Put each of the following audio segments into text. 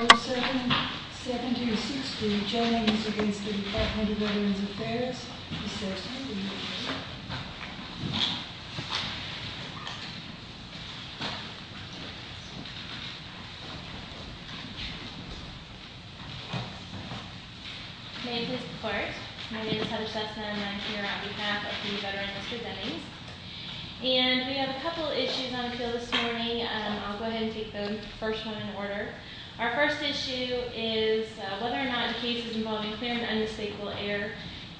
Order 77060, General Announcements against the Department of Veterans Affairs. Ms. Sesson, will you please come forward? My name is Heather Sesson and I'm here on behalf of the Veterans Presenting. And we have a couple issues on the field this morning. I'll go ahead and take the first one in order. Our first issue is whether or not a case is involving clear and unmistakable error,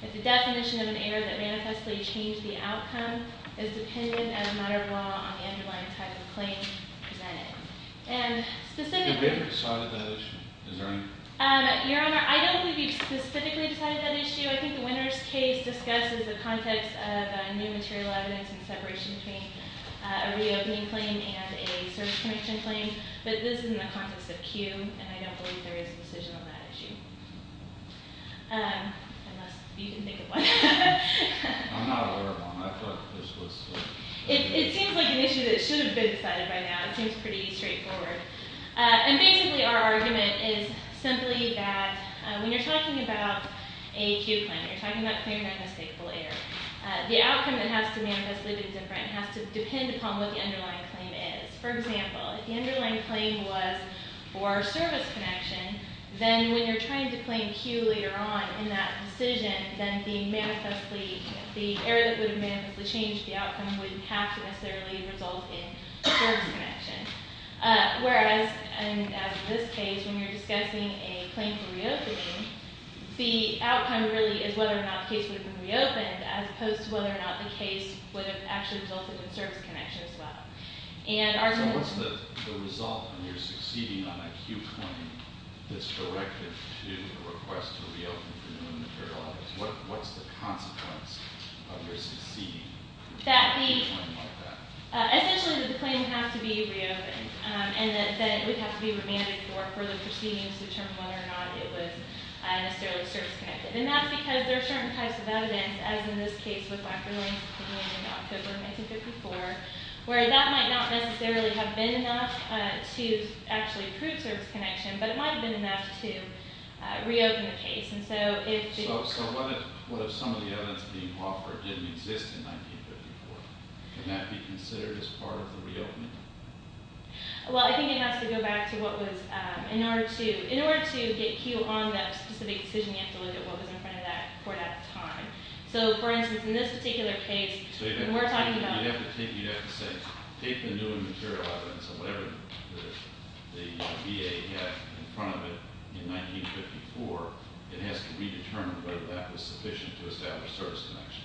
if the definition of an error that manifestly changed the outcome is dependent, as a matter of law, on the underlying type of claim presented. And specifically... You could have decided that issue. Is that right? Your Honor, I don't think we specifically decided that issue. I think the winner's case discusses the context of new material evidence and separation between a reopening claim and a service connection claim. But this is in the context of Q, and I don't believe there is a decision on that issue. Unless you can think of one. I'm not aware of one. I feel like this was... It seems like an issue that should have been decided by now. It seems pretty straightforward. And basically our argument is simply that when you're talking about a Q claim, you're talking about clear and unmistakable error. The outcome that has to manifestly be different has to depend upon what the underlying claim is. For example, if the underlying claim was for service connection, then when you're trying to claim Q later on in that decision, then the error that would have manifestly changed the outcome wouldn't have to necessarily result in service connection. Whereas, as in this case, when you're discussing a claim for reopening, the outcome really is whether or not the case would have been reopened, as opposed to whether or not the case would have actually resulted in service connection as well. So what's the result when you're succeeding on a Q claim that's directed to a request to reopen for new material evidence? What's the consequence of your succeeding on a claim like that? Essentially, the claim has to be reopened. And then it would have to be remanded for further proceedings to determine whether or not it was necessarily service connected. And that's because there are certain types of evidence, as in this case with Wacker-Lang's opinion in October 1954, where that might not necessarily have been enough to actually prove service connection, but it might have been enough to reopen the case. So what if some of the evidence being offered didn't exist in 1954? Could that be considered as part of the reopening? Well, I think it has to go back to what was in order to get Q on that specific decision, you have to look at what was in front of that court at the time. So, for instance, in this particular case, when we're talking about... So you'd have to say, take the new material evidence, whatever the VA had in front of it in 1954, it has to be determined whether that was sufficient to establish service connection.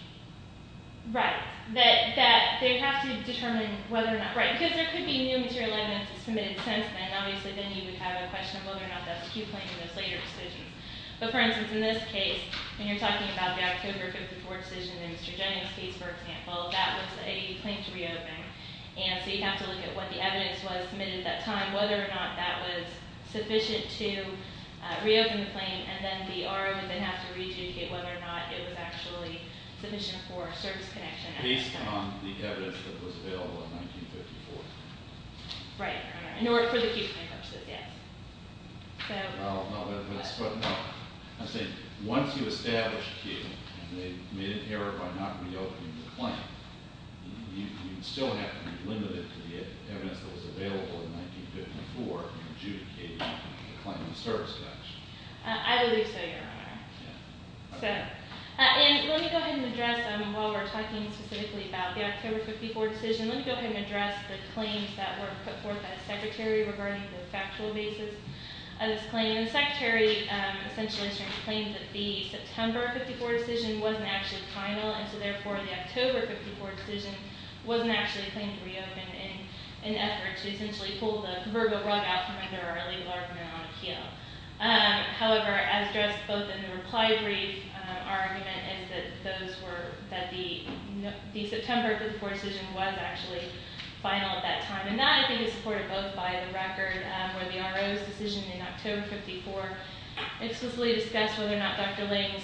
Right, that they have to determine whether or not... Right, because there could be new material evidence submitted since then, and obviously then you would have a question of whether or not that's a Q claim in those later decisions. But, for instance, in this case, when you're talking about the October 1954 decision in Mr. Jennings' case, for example, that was a claim to reopen. And so you'd have to look at what the evidence was submitted at that time, whether or not that was sufficient to reopen the claim, and then the RO would then have to rejudicate whether or not it was actually sufficient for service connection. Based on the evidence that was available in 1954. Right, in order for the Q claim purposes, yes. No, no, that's what I'm saying. Once you establish Q, and they made an error by not reopening the claim, you'd still have to be limited to the evidence that was available in 1954 in adjudicating the claim of service connection. I believe so, Your Honor. And let me go ahead and address, while we're talking specifically about the October 1954 decision, let me go ahead and address the claims that were put forth by the Secretary regarding the factual basis. The Secretary essentially claimed that the September 1954 decision wasn't actually final, and so therefore the October 1954 decision wasn't actually claimed to reopen in an effort to essentially pull the verbal rug out from under our legal argument on the Q. However, as addressed both in the reply brief, our argument is that the September 1954 decision was actually final at that time. And that, I think, is supported both by the record where the RO's decision in October 1954 explicitly discussed whether or not Dr. Lange's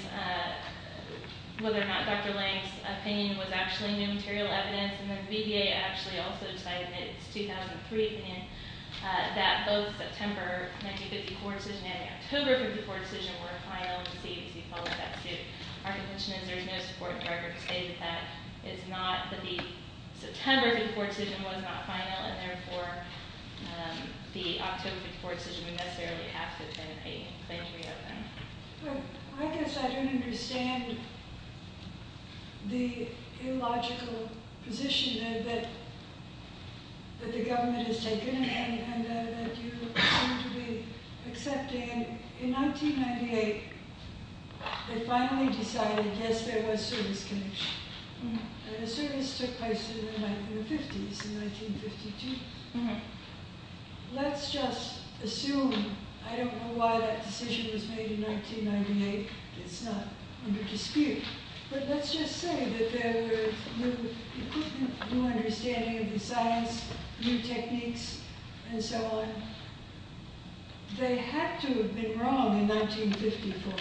opinion was actually new material evidence, and then the BDA actually also decided in its 2003 opinion that both the September 1954 decision and the October 1954 decision were final, and the CDC followed that suit. Our contention is there is no support in the record to say that that is not, that the September 1954 decision was not final, and therefore the October 1954 decision would necessarily have to have been a claim to reopen. Well, I guess I don't understand the illogical position that the government has taken and that you seem to be accepting. In 1998, they finally decided, yes, there was service connection. And the service took place in the 1950s, in 1952. Let's just assume, I don't know why that decision was made in 1998. It's not under dispute. But let's just say that there were new equipment, new understanding of the science, new techniques, and so on. They had to have been wrong in 1954.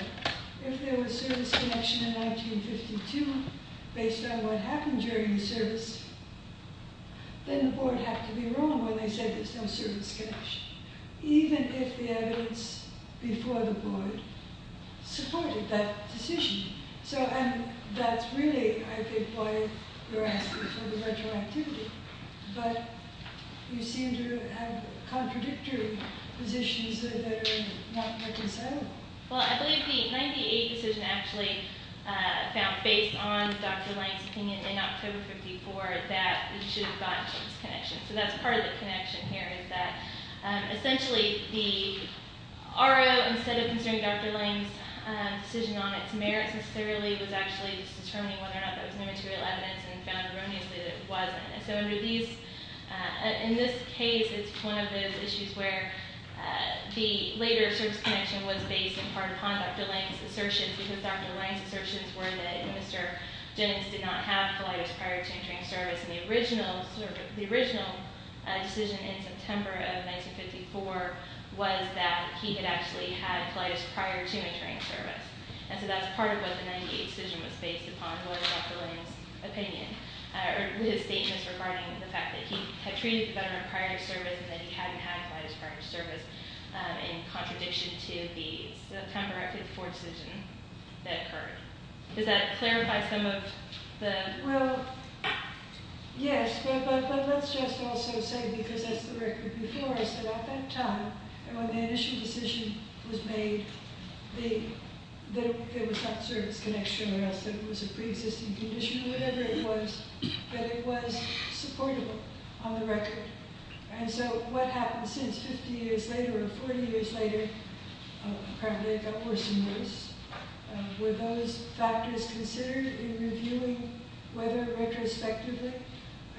If there was service connection in 1952, based on what happened during the service, then the board had to be wrong when they said there's no service connection, even if the evidence before the board supported that decision. And that's really, I think, why you're asking for the retroactivity. But you seem to have contradictory positions that are not reconcilable. Well, I believe the 1998 decision actually found, based on Dr. Lange's opinion in October of 1954, that we should have gotten service connection. So that's part of the connection here is that, essentially, the RO, instead of considering Dr. Lange's decision on its merits necessarily, was actually determining whether or not there was no material evidence and found erroneously that it wasn't. In this case, it's one of those issues where the later service connection was based upon Dr. Lange's assertions, because Dr. Lange's assertions were that Mr. Jennings did not have colitis prior to entering service. And the original decision in September of 1954 was that he had actually had colitis prior to entering service. And so that's part of what the 1998 decision was based upon was Dr. Lange's opinion, or his statements regarding the fact that he had treated the veteran prior to service and that he hadn't had colitis prior to service in contradiction to the September of 1954 decision that occurred. Does that clarify some of the... Well, yes, but let's just also say, because that's the record before us about that time, and when the initial decision was made that it was not service connection or else that it was a pre-existing condition or whatever it was, that it was supportable on the record. And so what happened since 50 years later or 40 years later, apparently it got worse and worse, were those factors considered in reviewing whether retrospectively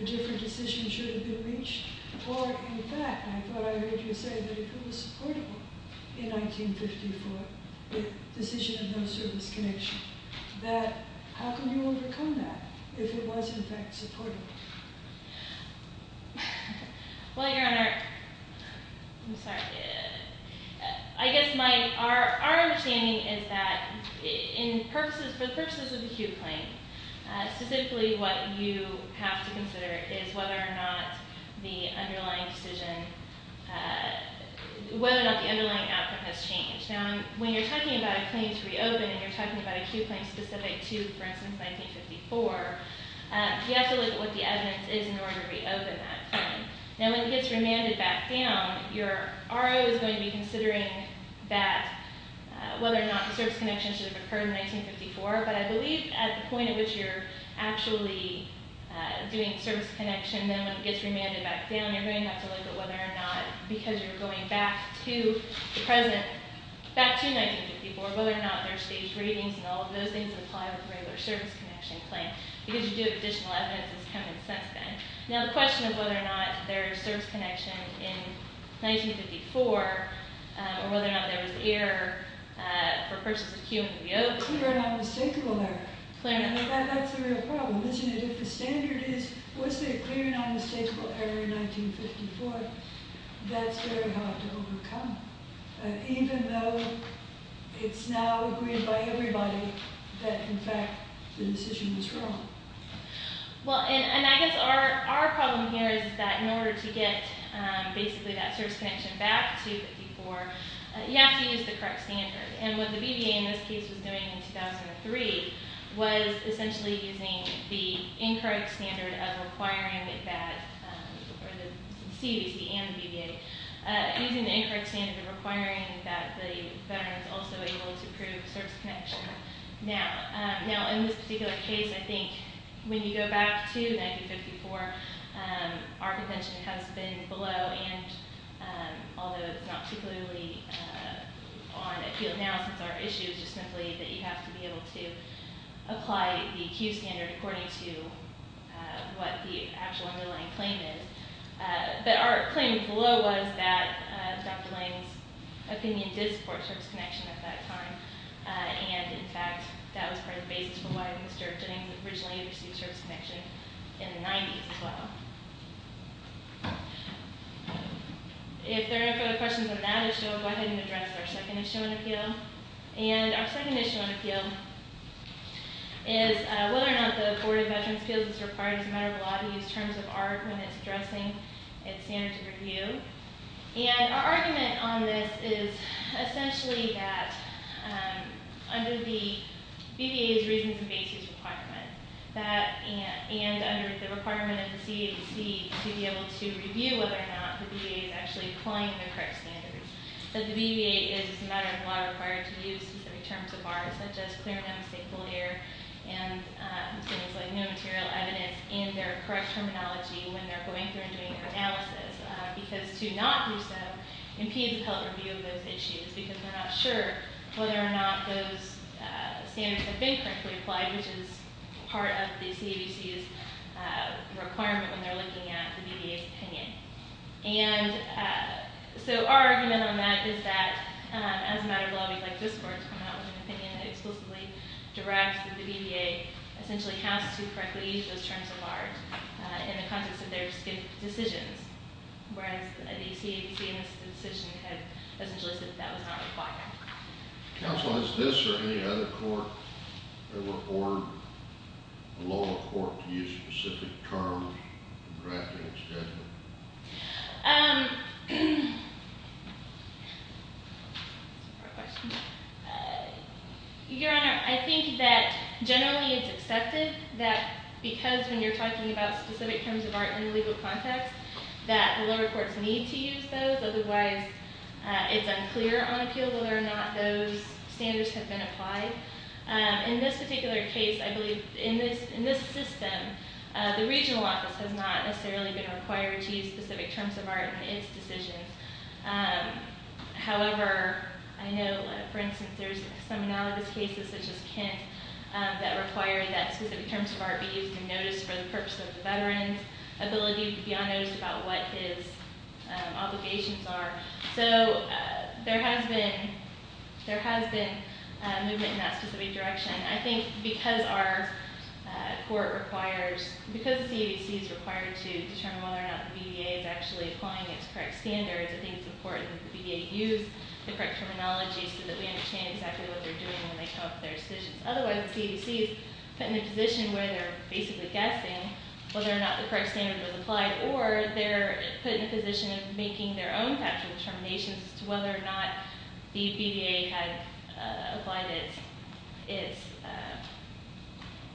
a different decision should have been reached, or in fact, I thought I heard you say that it was supportable in 1954, the decision of no service connection, that how could you overcome that if it was in fact supportable? Well, Your Honor, I'm sorry. I guess our understanding is that for the purposes of the Hugh claim, specifically what you have to consider is whether or not the underlying outcome has changed. Now, when you're talking about a claim to reopen and you're talking about a Hugh claim specific to, for instance, 1954, you have to look at what the evidence is in order to reopen that claim. Now, when it gets remanded back down, your RO is going to be considering whether or not the service connection should have occurred in 1954, but I believe at the point at which you're actually doing service connection, then when it gets remanded back down, you're going to have to look at whether or not, because you're going back to the present, back to 1954, whether or not there are staged ratings and all of those things that apply with a regular service connection claim, because you do have additional evidence that's coming since then. Now, the question of whether or not there is service connection in 1954 or whether or not there was error for purchase of Hugh when we opened. Clear and unmistakable error. Clear and unmistakable. That's the real problem, isn't it? If the standard is, was there a clear and unmistakable error in 1954, that's very hard to overcome, even though it's now agreed by everybody that, in fact, the decision was wrong. Well, and I guess our problem here is that in order to get basically that service connection back to 1954, you have to use the correct standard. And what the BVA in this case was doing in 2003 was essentially using the incorrect standard of requiring that, or the CDC and the BVA, using the incorrect standard of requiring that the veteran was also able to prove service connection. Now, in this particular case, I think when you go back to 1954, our convention has been below, and although it's not particularly on appeal now since our issue is just simply that you have to be able to apply the Q standard according to what the actual underlying claim is. But our claim below was that Dr. Lange's opinion did support service connection at that time, and, in fact, that was part of the basis for why Mr. Lange originally pursued service connection in the 90s as well. If there are no further questions on that issue, I'll go ahead and address our second issue on appeal. And our second issue on appeal is whether or not the Board of Veterans' Appeals is required as a matter of law to use terms of art when it's addressing its standards of review. And our argument on this is essentially that under the BVA's reasons and basis requirement, and under the requirement of the CDC to be able to review whether or not the BVA is actually applying the correct standards, that the BVA is, as a matter of law, required to use specific terms of art such as clear and unmistakable error and things like no material evidence in their correct terminology when they're going through and doing their analysis because to not do so impedes the public review of those issues because they're not sure whether or not those standards have been correctly applied, which is part of the CDC's requirement when they're looking at the BVA's opinion. And so our argument on that is that, as a matter of law, we'd like this Court to come out with an opinion that explicitly directs that the BVA essentially has to correctly use those terms of art in the context of their decisions, whereas the CDC in this decision has essentially said that was not required. Counsel, has this or any other court ever ordered the lower court to use specific terms in drafting its judgment? Your Honor, I think that generally it's accepted that because when you're talking about specific terms of art in the legal context, that the lower courts need to use those, otherwise it's unclear on appeal whether or not those standards have been applied. In this particular case, I believe in this system, the regional office has not necessarily been required to use specific terms of art in its decisions. However, I know, for instance, there's some analogous cases such as Kent that require that specific terms of art be used in notice for the purpose of the veteran's ability to be on notice about what his obligations are. So there has been movement in that specific direction. I think because the CDC is required to determine whether or not the BVA is actually applying its correct standards, I think it's important that the BVA use the correct terminology so that we understand exactly what they're doing when they come up with their decisions. Otherwise, the CDC is put in a position where they're basically guessing whether or not the correct standard was applied, or they're put in a position of making their own factual determinations as to whether or not the BVA had applied its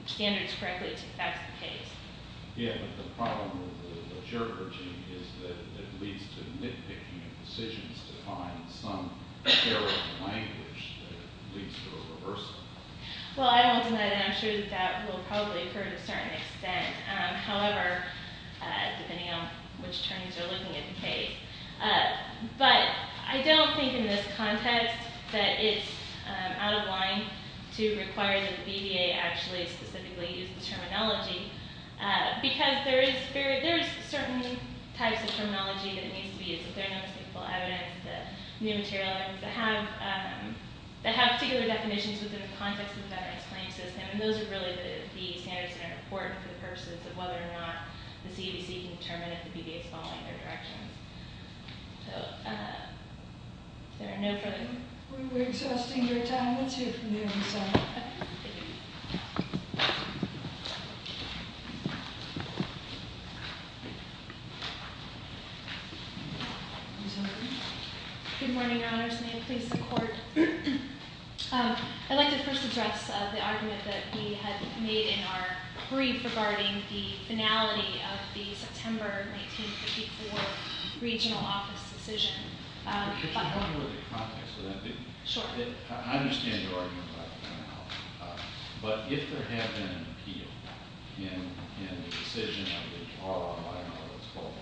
standards correctly to the facts of the case. Yeah, but the problem with the Cherokee regime is that it leads to nitpicking of decisions to find some terrible language that leads to a reversal. Well, I won't deny that, and I'm sure that that will probably occur to a certain extent. However, depending on which terms you're looking at in the case. But I don't think in this context that it's out of line to require that the BVA actually specifically use the terminology, because there is certain types of terminology that needs to be used. There are no stateful evidence, the new material evidence that have particular definitions within the context of the veteran's claim system, and those are really the standards that are important for the purposes of whether or not the CDC can determine if the BVA is following their directions. So, is there a note for me? We're exhausting your time. Let's hear it from the other side. Good morning, Your Honors. May it please the Court. I'd like to first address the argument that we had made in our brief regarding the finality of the September 1954 regional office decision. Because you're talking about the context of that. Sure. I understand your argument about the finality. But if there had been an appeal in the decision of the RO, I don't know what it's called,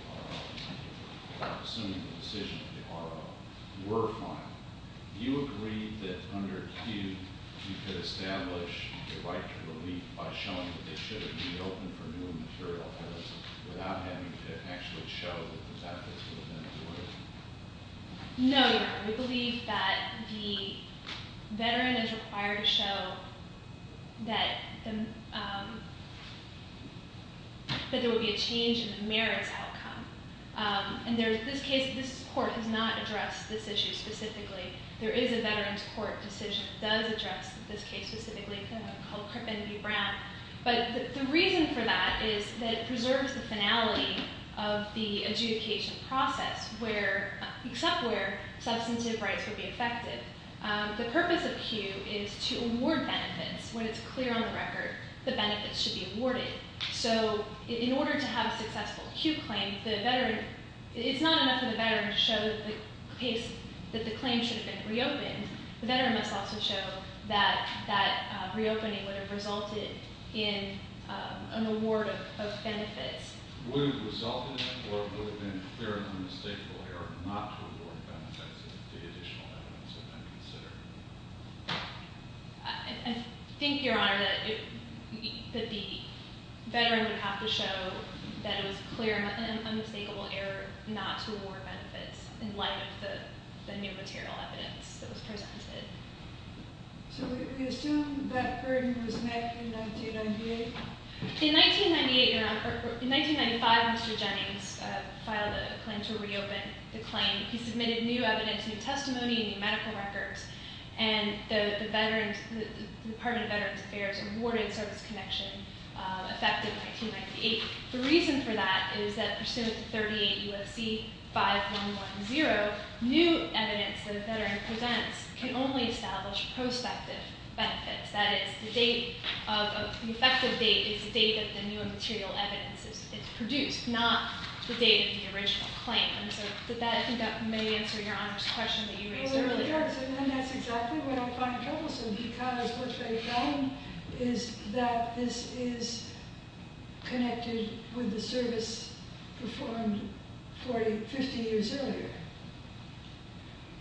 RO, assuming the decision of the RO were final, do you agree that under Q you could establish the right to relief by showing that they should have been open for new material evidence without having to actually show that the benefits would have been awarded? No, Your Honor. We believe that the veteran is required to show that there would be a change in the merits outcome. In this case, this Court has not addressed this issue specifically. There is a veteran's court decision that does address this case specifically called Krippen v. Brown. But the reason for that is that it preserves the finality of the adjudication process, except where substantive rights would be affected. The purpose of Q is to award benefits when it's clear on the record the benefits should be awarded. So in order to have a successful Q claim, it's not enough for the veteran to show that the claim should have been reopened. The veteran must also show that that reopening would have resulted in an award of benefits. Would it have resulted in it, or would it have been clear and unmistakable error not to award benefits if the additional evidence had been considered? I think, Your Honor, that the veteran would have to show that it was clear and unmistakable error not to award benefits in light of the new material evidence that was presented. So we assume that burden was met in 1998? In 1995, Mr. Jennings filed a claim to reopen the claim. He submitted new evidence, new testimony, new medical records, and the Department of Veterans Affairs awarded service connection effective 1998. The reason for that is that pursuant to 38 U.S.C. 5110, new evidence that a veteran presents can only establish prospective benefits. That is, the effective date is the date that the new material evidence is produced, not the date of the original claim. I think that may answer Your Honor's question that you raised earlier. Well, it really does, and that's exactly what I find troublesome because what they found is that this is connected with the service performed 50 years earlier.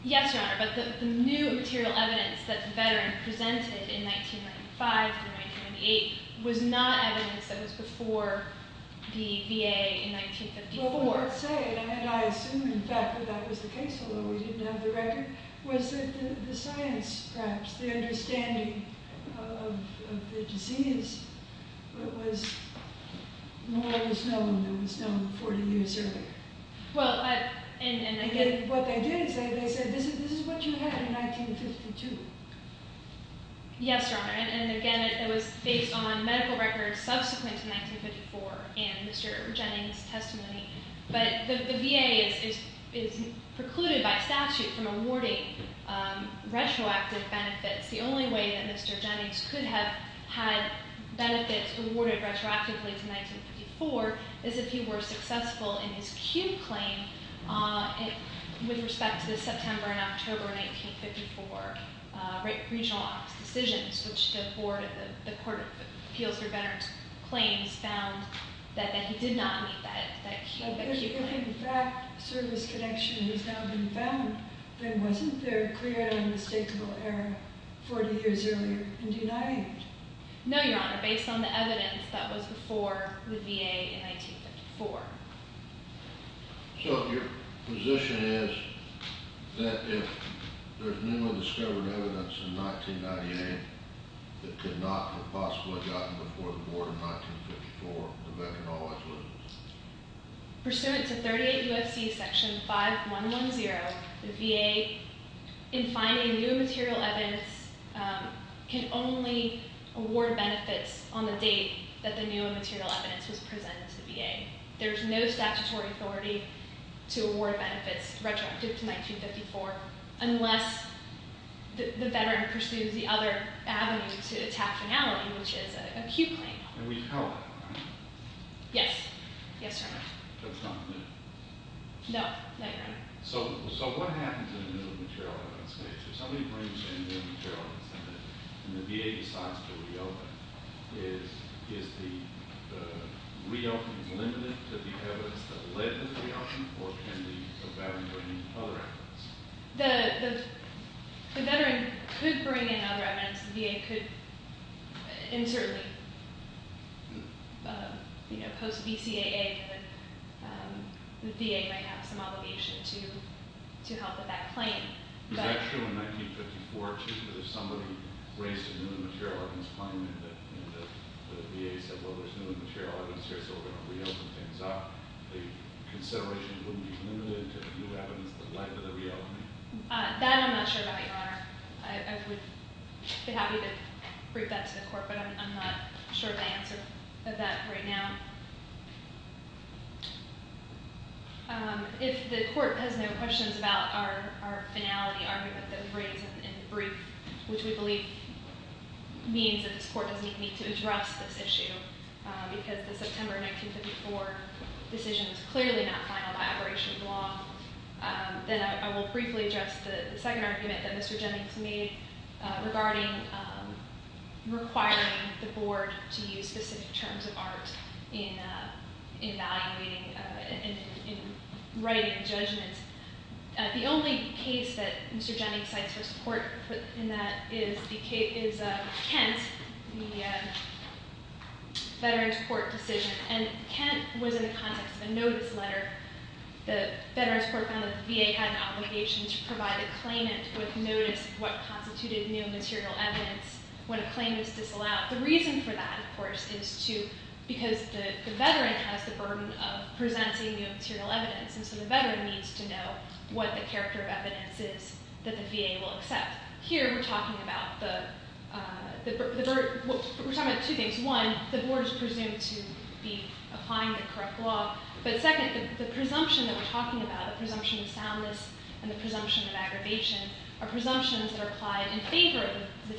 Yes, Your Honor, but the new material evidence that the veteran presented in 1995 and 1998 was not evidence that was before the VA in 1954. Well, what I'm saying, and I assume, in fact, that that was the case, although we didn't have the record, was that the science, perhaps, the understanding of the disease was more or less known than was known 40 years earlier. What they didn't say, they said, this is what you had in 1952. Yes, Your Honor, and again, it was based on medical records subsequent to 1954 and Mr. Jennings' testimony. But the VA is precluded by statute from awarding retroactive benefits. The only way that Mr. Jennings could have had benefits awarded retroactively to 1954 is if he were successful in his Q claim with respect to the September and October 1954 Regional Office decisions, which the Court of Appeals for Veterans Claims found that he did not meet that Q claim. But if, in fact, service connection has now been found, then wasn't there a clear and unmistakable error 40 years earlier and denied? No, Your Honor, based on the evidence that was before the VA in 1954. So your position is that if there's newly discovered evidence in 1998 that could not have possibly gotten before the Board in 1954, the veteran always would? Pursuant to 38 U.S.C. Section 5110, the VA, in finding new material evidence, can only award benefits on the date that the new material evidence was presented to the VA. There's no statutory authority to award benefits retroactive to 1954 unless the veteran pursues the other avenue to attack finality, which is a Q claim. And we've held that, haven't we? Yes. Yes, Your Honor. That's not new? No. No, Your Honor. So what happens in the new material evidence case? If somebody brings in new material evidence and the VA decides to reopen, is the reopen limited to the evidence that led to the reopen, or can the veteran bring in other evidence? The veteran could bring in other evidence. The VA could, and certainly post-BCAA, the VA might have some obligation to help with that claim. Is that true in 1954, too? If somebody raised a new material evidence claim and the VA said, well, there's new material evidence here, so we're going to reopen things up, the consideration wouldn't be limited to new evidence that led to the reopen? That I'm not sure about, Your Honor. I would be happy to brief that to the court, but I'm not sure of the answer to that right now. If the court has no questions about our finality argument that we raised in the brief, which we believe means that this court doesn't need to address this issue, because the September 1954 decision is clearly not final by operation of the law, then I will briefly address the second argument that Mr. Jennings made regarding requiring the board to use specific terms of art in writing judgments. The only case that Mr. Jennings cites for support in that is Kent, the Veterans Court decision. And Kent was in the context of a notice letter. The Veterans Court found that the VA had an obligation to provide a claimant with notice of what constituted new material evidence when a claim was disallowed. The reason for that, of course, is because the veteran has the burden of presenting new material evidence, and so the veteran needs to know what the character of evidence is that the VA will accept. Here, we're talking about two things. One, the board is presumed to be applying the correct law. But second, the presumption that we're talking about, the presumption of soundness and the presumption of aggravation, are presumptions that are applied in favor of the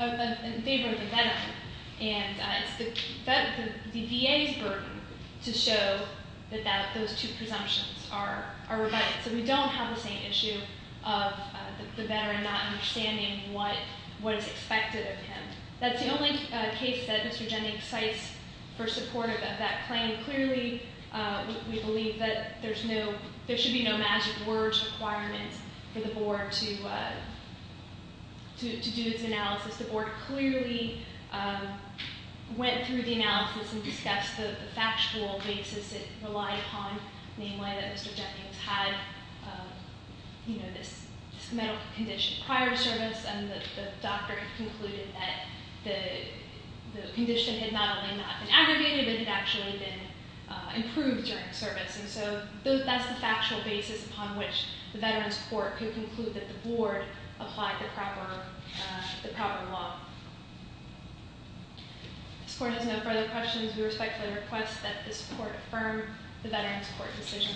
veteran. And it's the VA's burden to show that those two presumptions are rebutted. So we don't have the same issue of the veteran not understanding what is expected of him. That's the only case that Mr. Jennings cites for support of that claim. Clearly, we believe that there should be no magic words requirement for the board to do its analysis. The board clearly went through the analysis and discussed the factual basis it relied upon, namely that Mr. Jennings had this medical condition prior to service, and the doctor concluded that the condition had not only not been aggravated, but had actually been improved during service. And so that's the factual basis upon which the Veterans Court could conclude that the board applied the proper law. If this Court has no further questions, we respectfully request that this Court affirm the Veterans Court decision.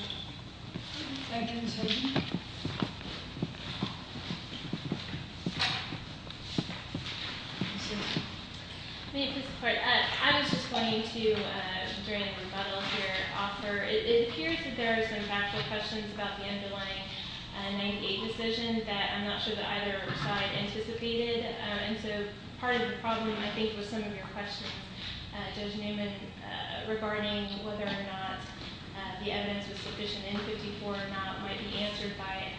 Thank you. Do I get a second? May it please the Court? I was just going to, during the rebuttal here, offer it appears that there are some factual questions about the underlying 98 decision that I'm not sure that either side anticipated. And so part of the problem, I think, was some of your questions, Judge Newman, regarding whether or not the evidence was sufficient in 54 or not might be answered by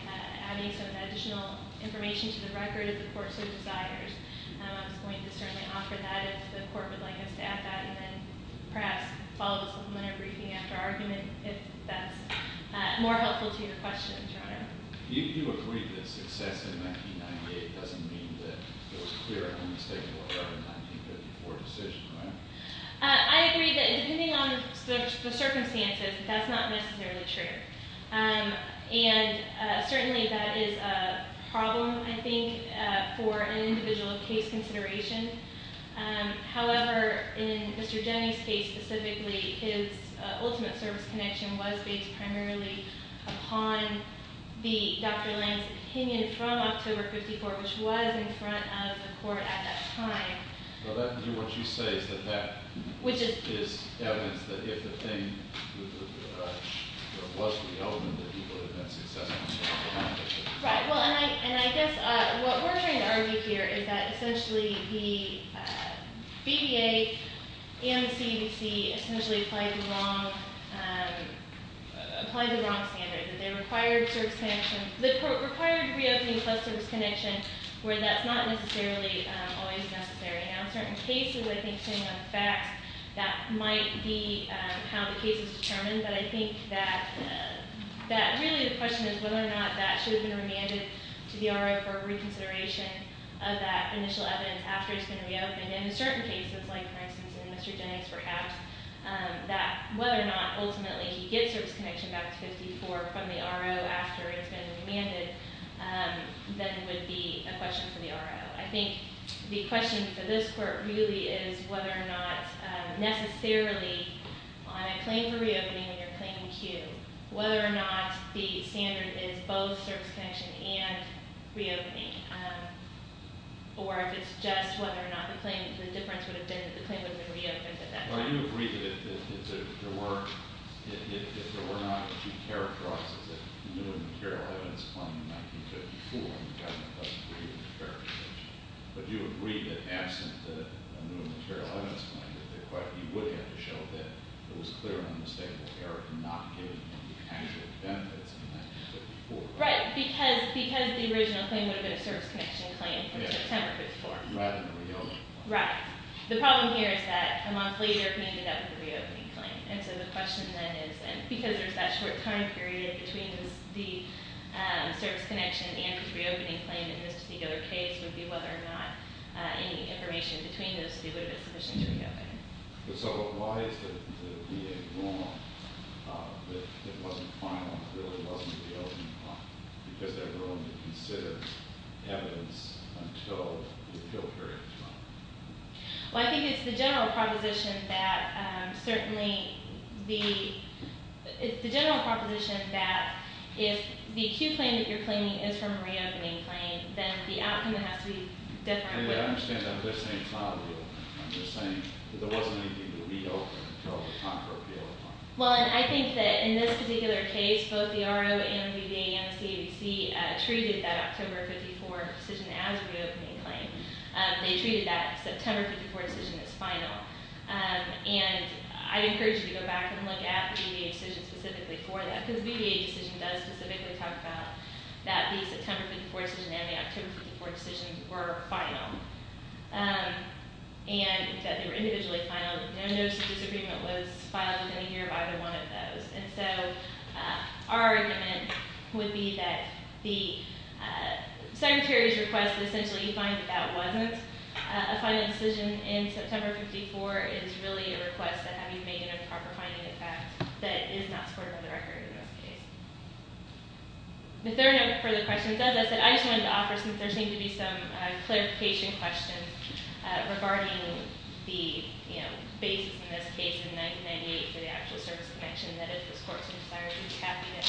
adding some additional information to the record if the Court so desires. I was going to certainly offer that if the Court would like us to add that, and then perhaps follow the supplementary briefing after argument if that's more helpful to your questions, Your Honor. You agreed that success in 1998 doesn't mean that it was a clear and unmistakable error in the 1954 decision, right? I agree that depending on the circumstances, that's not necessarily true. And certainly that is a problem, I think, for an individual of case consideration. However, in Mr. Jennings' case specifically, his ultimate service connection was based primarily upon the Dr. Lange's opinion from October 54, which was in front of the Court at that time. So that would be what you say, is that that is evidence that if the thing was the element that he would have had success in the case? Right. Well, and I guess what we're trying to argue here is that essentially the BBA and the CBC essentially applied the wrong standard, that they required service connection – required reopening plus service connection, where that's not necessarily always necessary. Now, in certain cases, I think, depending on the facts, that might be how the case is determined. But I think that really the question is whether or not that should have been remanded to the RO for reconsideration of that initial evidence after it's been reopened. And in certain cases, like for instance in Mr. Jennings' perhaps, that whether or not ultimately he gets service connection back to 54 from the RO after it's been remanded, then would be a question for the RO. I think the question for this Court really is whether or not necessarily on a claim for reopening and your claim to, whether or not the standard is both service connection and reopening, or if it's just whether or not the claim – the difference would have been that the claim would have been reopened at that point. Right. Because the original claim would have been a service connection claim from September 54. Right. The problem here is that a month later, he ended up with a reopening claim. And so the question then is, because there's that short time period between the service connection and the reopening claim in this particular case, would be whether or not any information between those two would have been sufficient to reopen it. So why is it that it would be ignorant that it wasn't final, that it really wasn't a reopening claim? Because they were only considering evidence until the appeal period was up. Well, I think it's the general proposition that certainly the – it's the general proposition that if the acute claim that you're claiming is from a reopening claim, then the outcome has to be different. I understand that. I'm just saying it's not a reopening claim. I'm just saying that there wasn't anything to reopen until the time for appeal had come. Well, and I think that in this particular case, both the RO and VBA and the CABC treated that October 54 decision as a reopening claim. They treated that September 54 decision as final. And I encourage you to go back and look at the VBA decision specifically for that, because the VBA decision does specifically talk about that the September 54 decision and the October 54 decision were final. And that they were individually final. No notice of disagreement was filed within a year of either one of those. And so our argument would be that the Secretary's request that essentially you find that that wasn't a final decision in September 54 is really a request that having made an improper finding, in fact, that is not supportive of the record in this case. If there are no further questions, as I said, I just wanted to offer, since there seemed to be some clarification questions regarding the basis in this case in 1998 for the actual service connection, that if this court's desire is happy to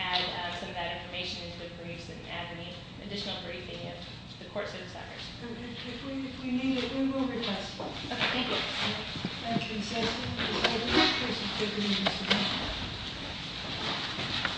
add some of that information into the briefs and add any additional briefing if the court so desires. If we need it, we will request it. Thank you. Thank you, Mr. Chairman.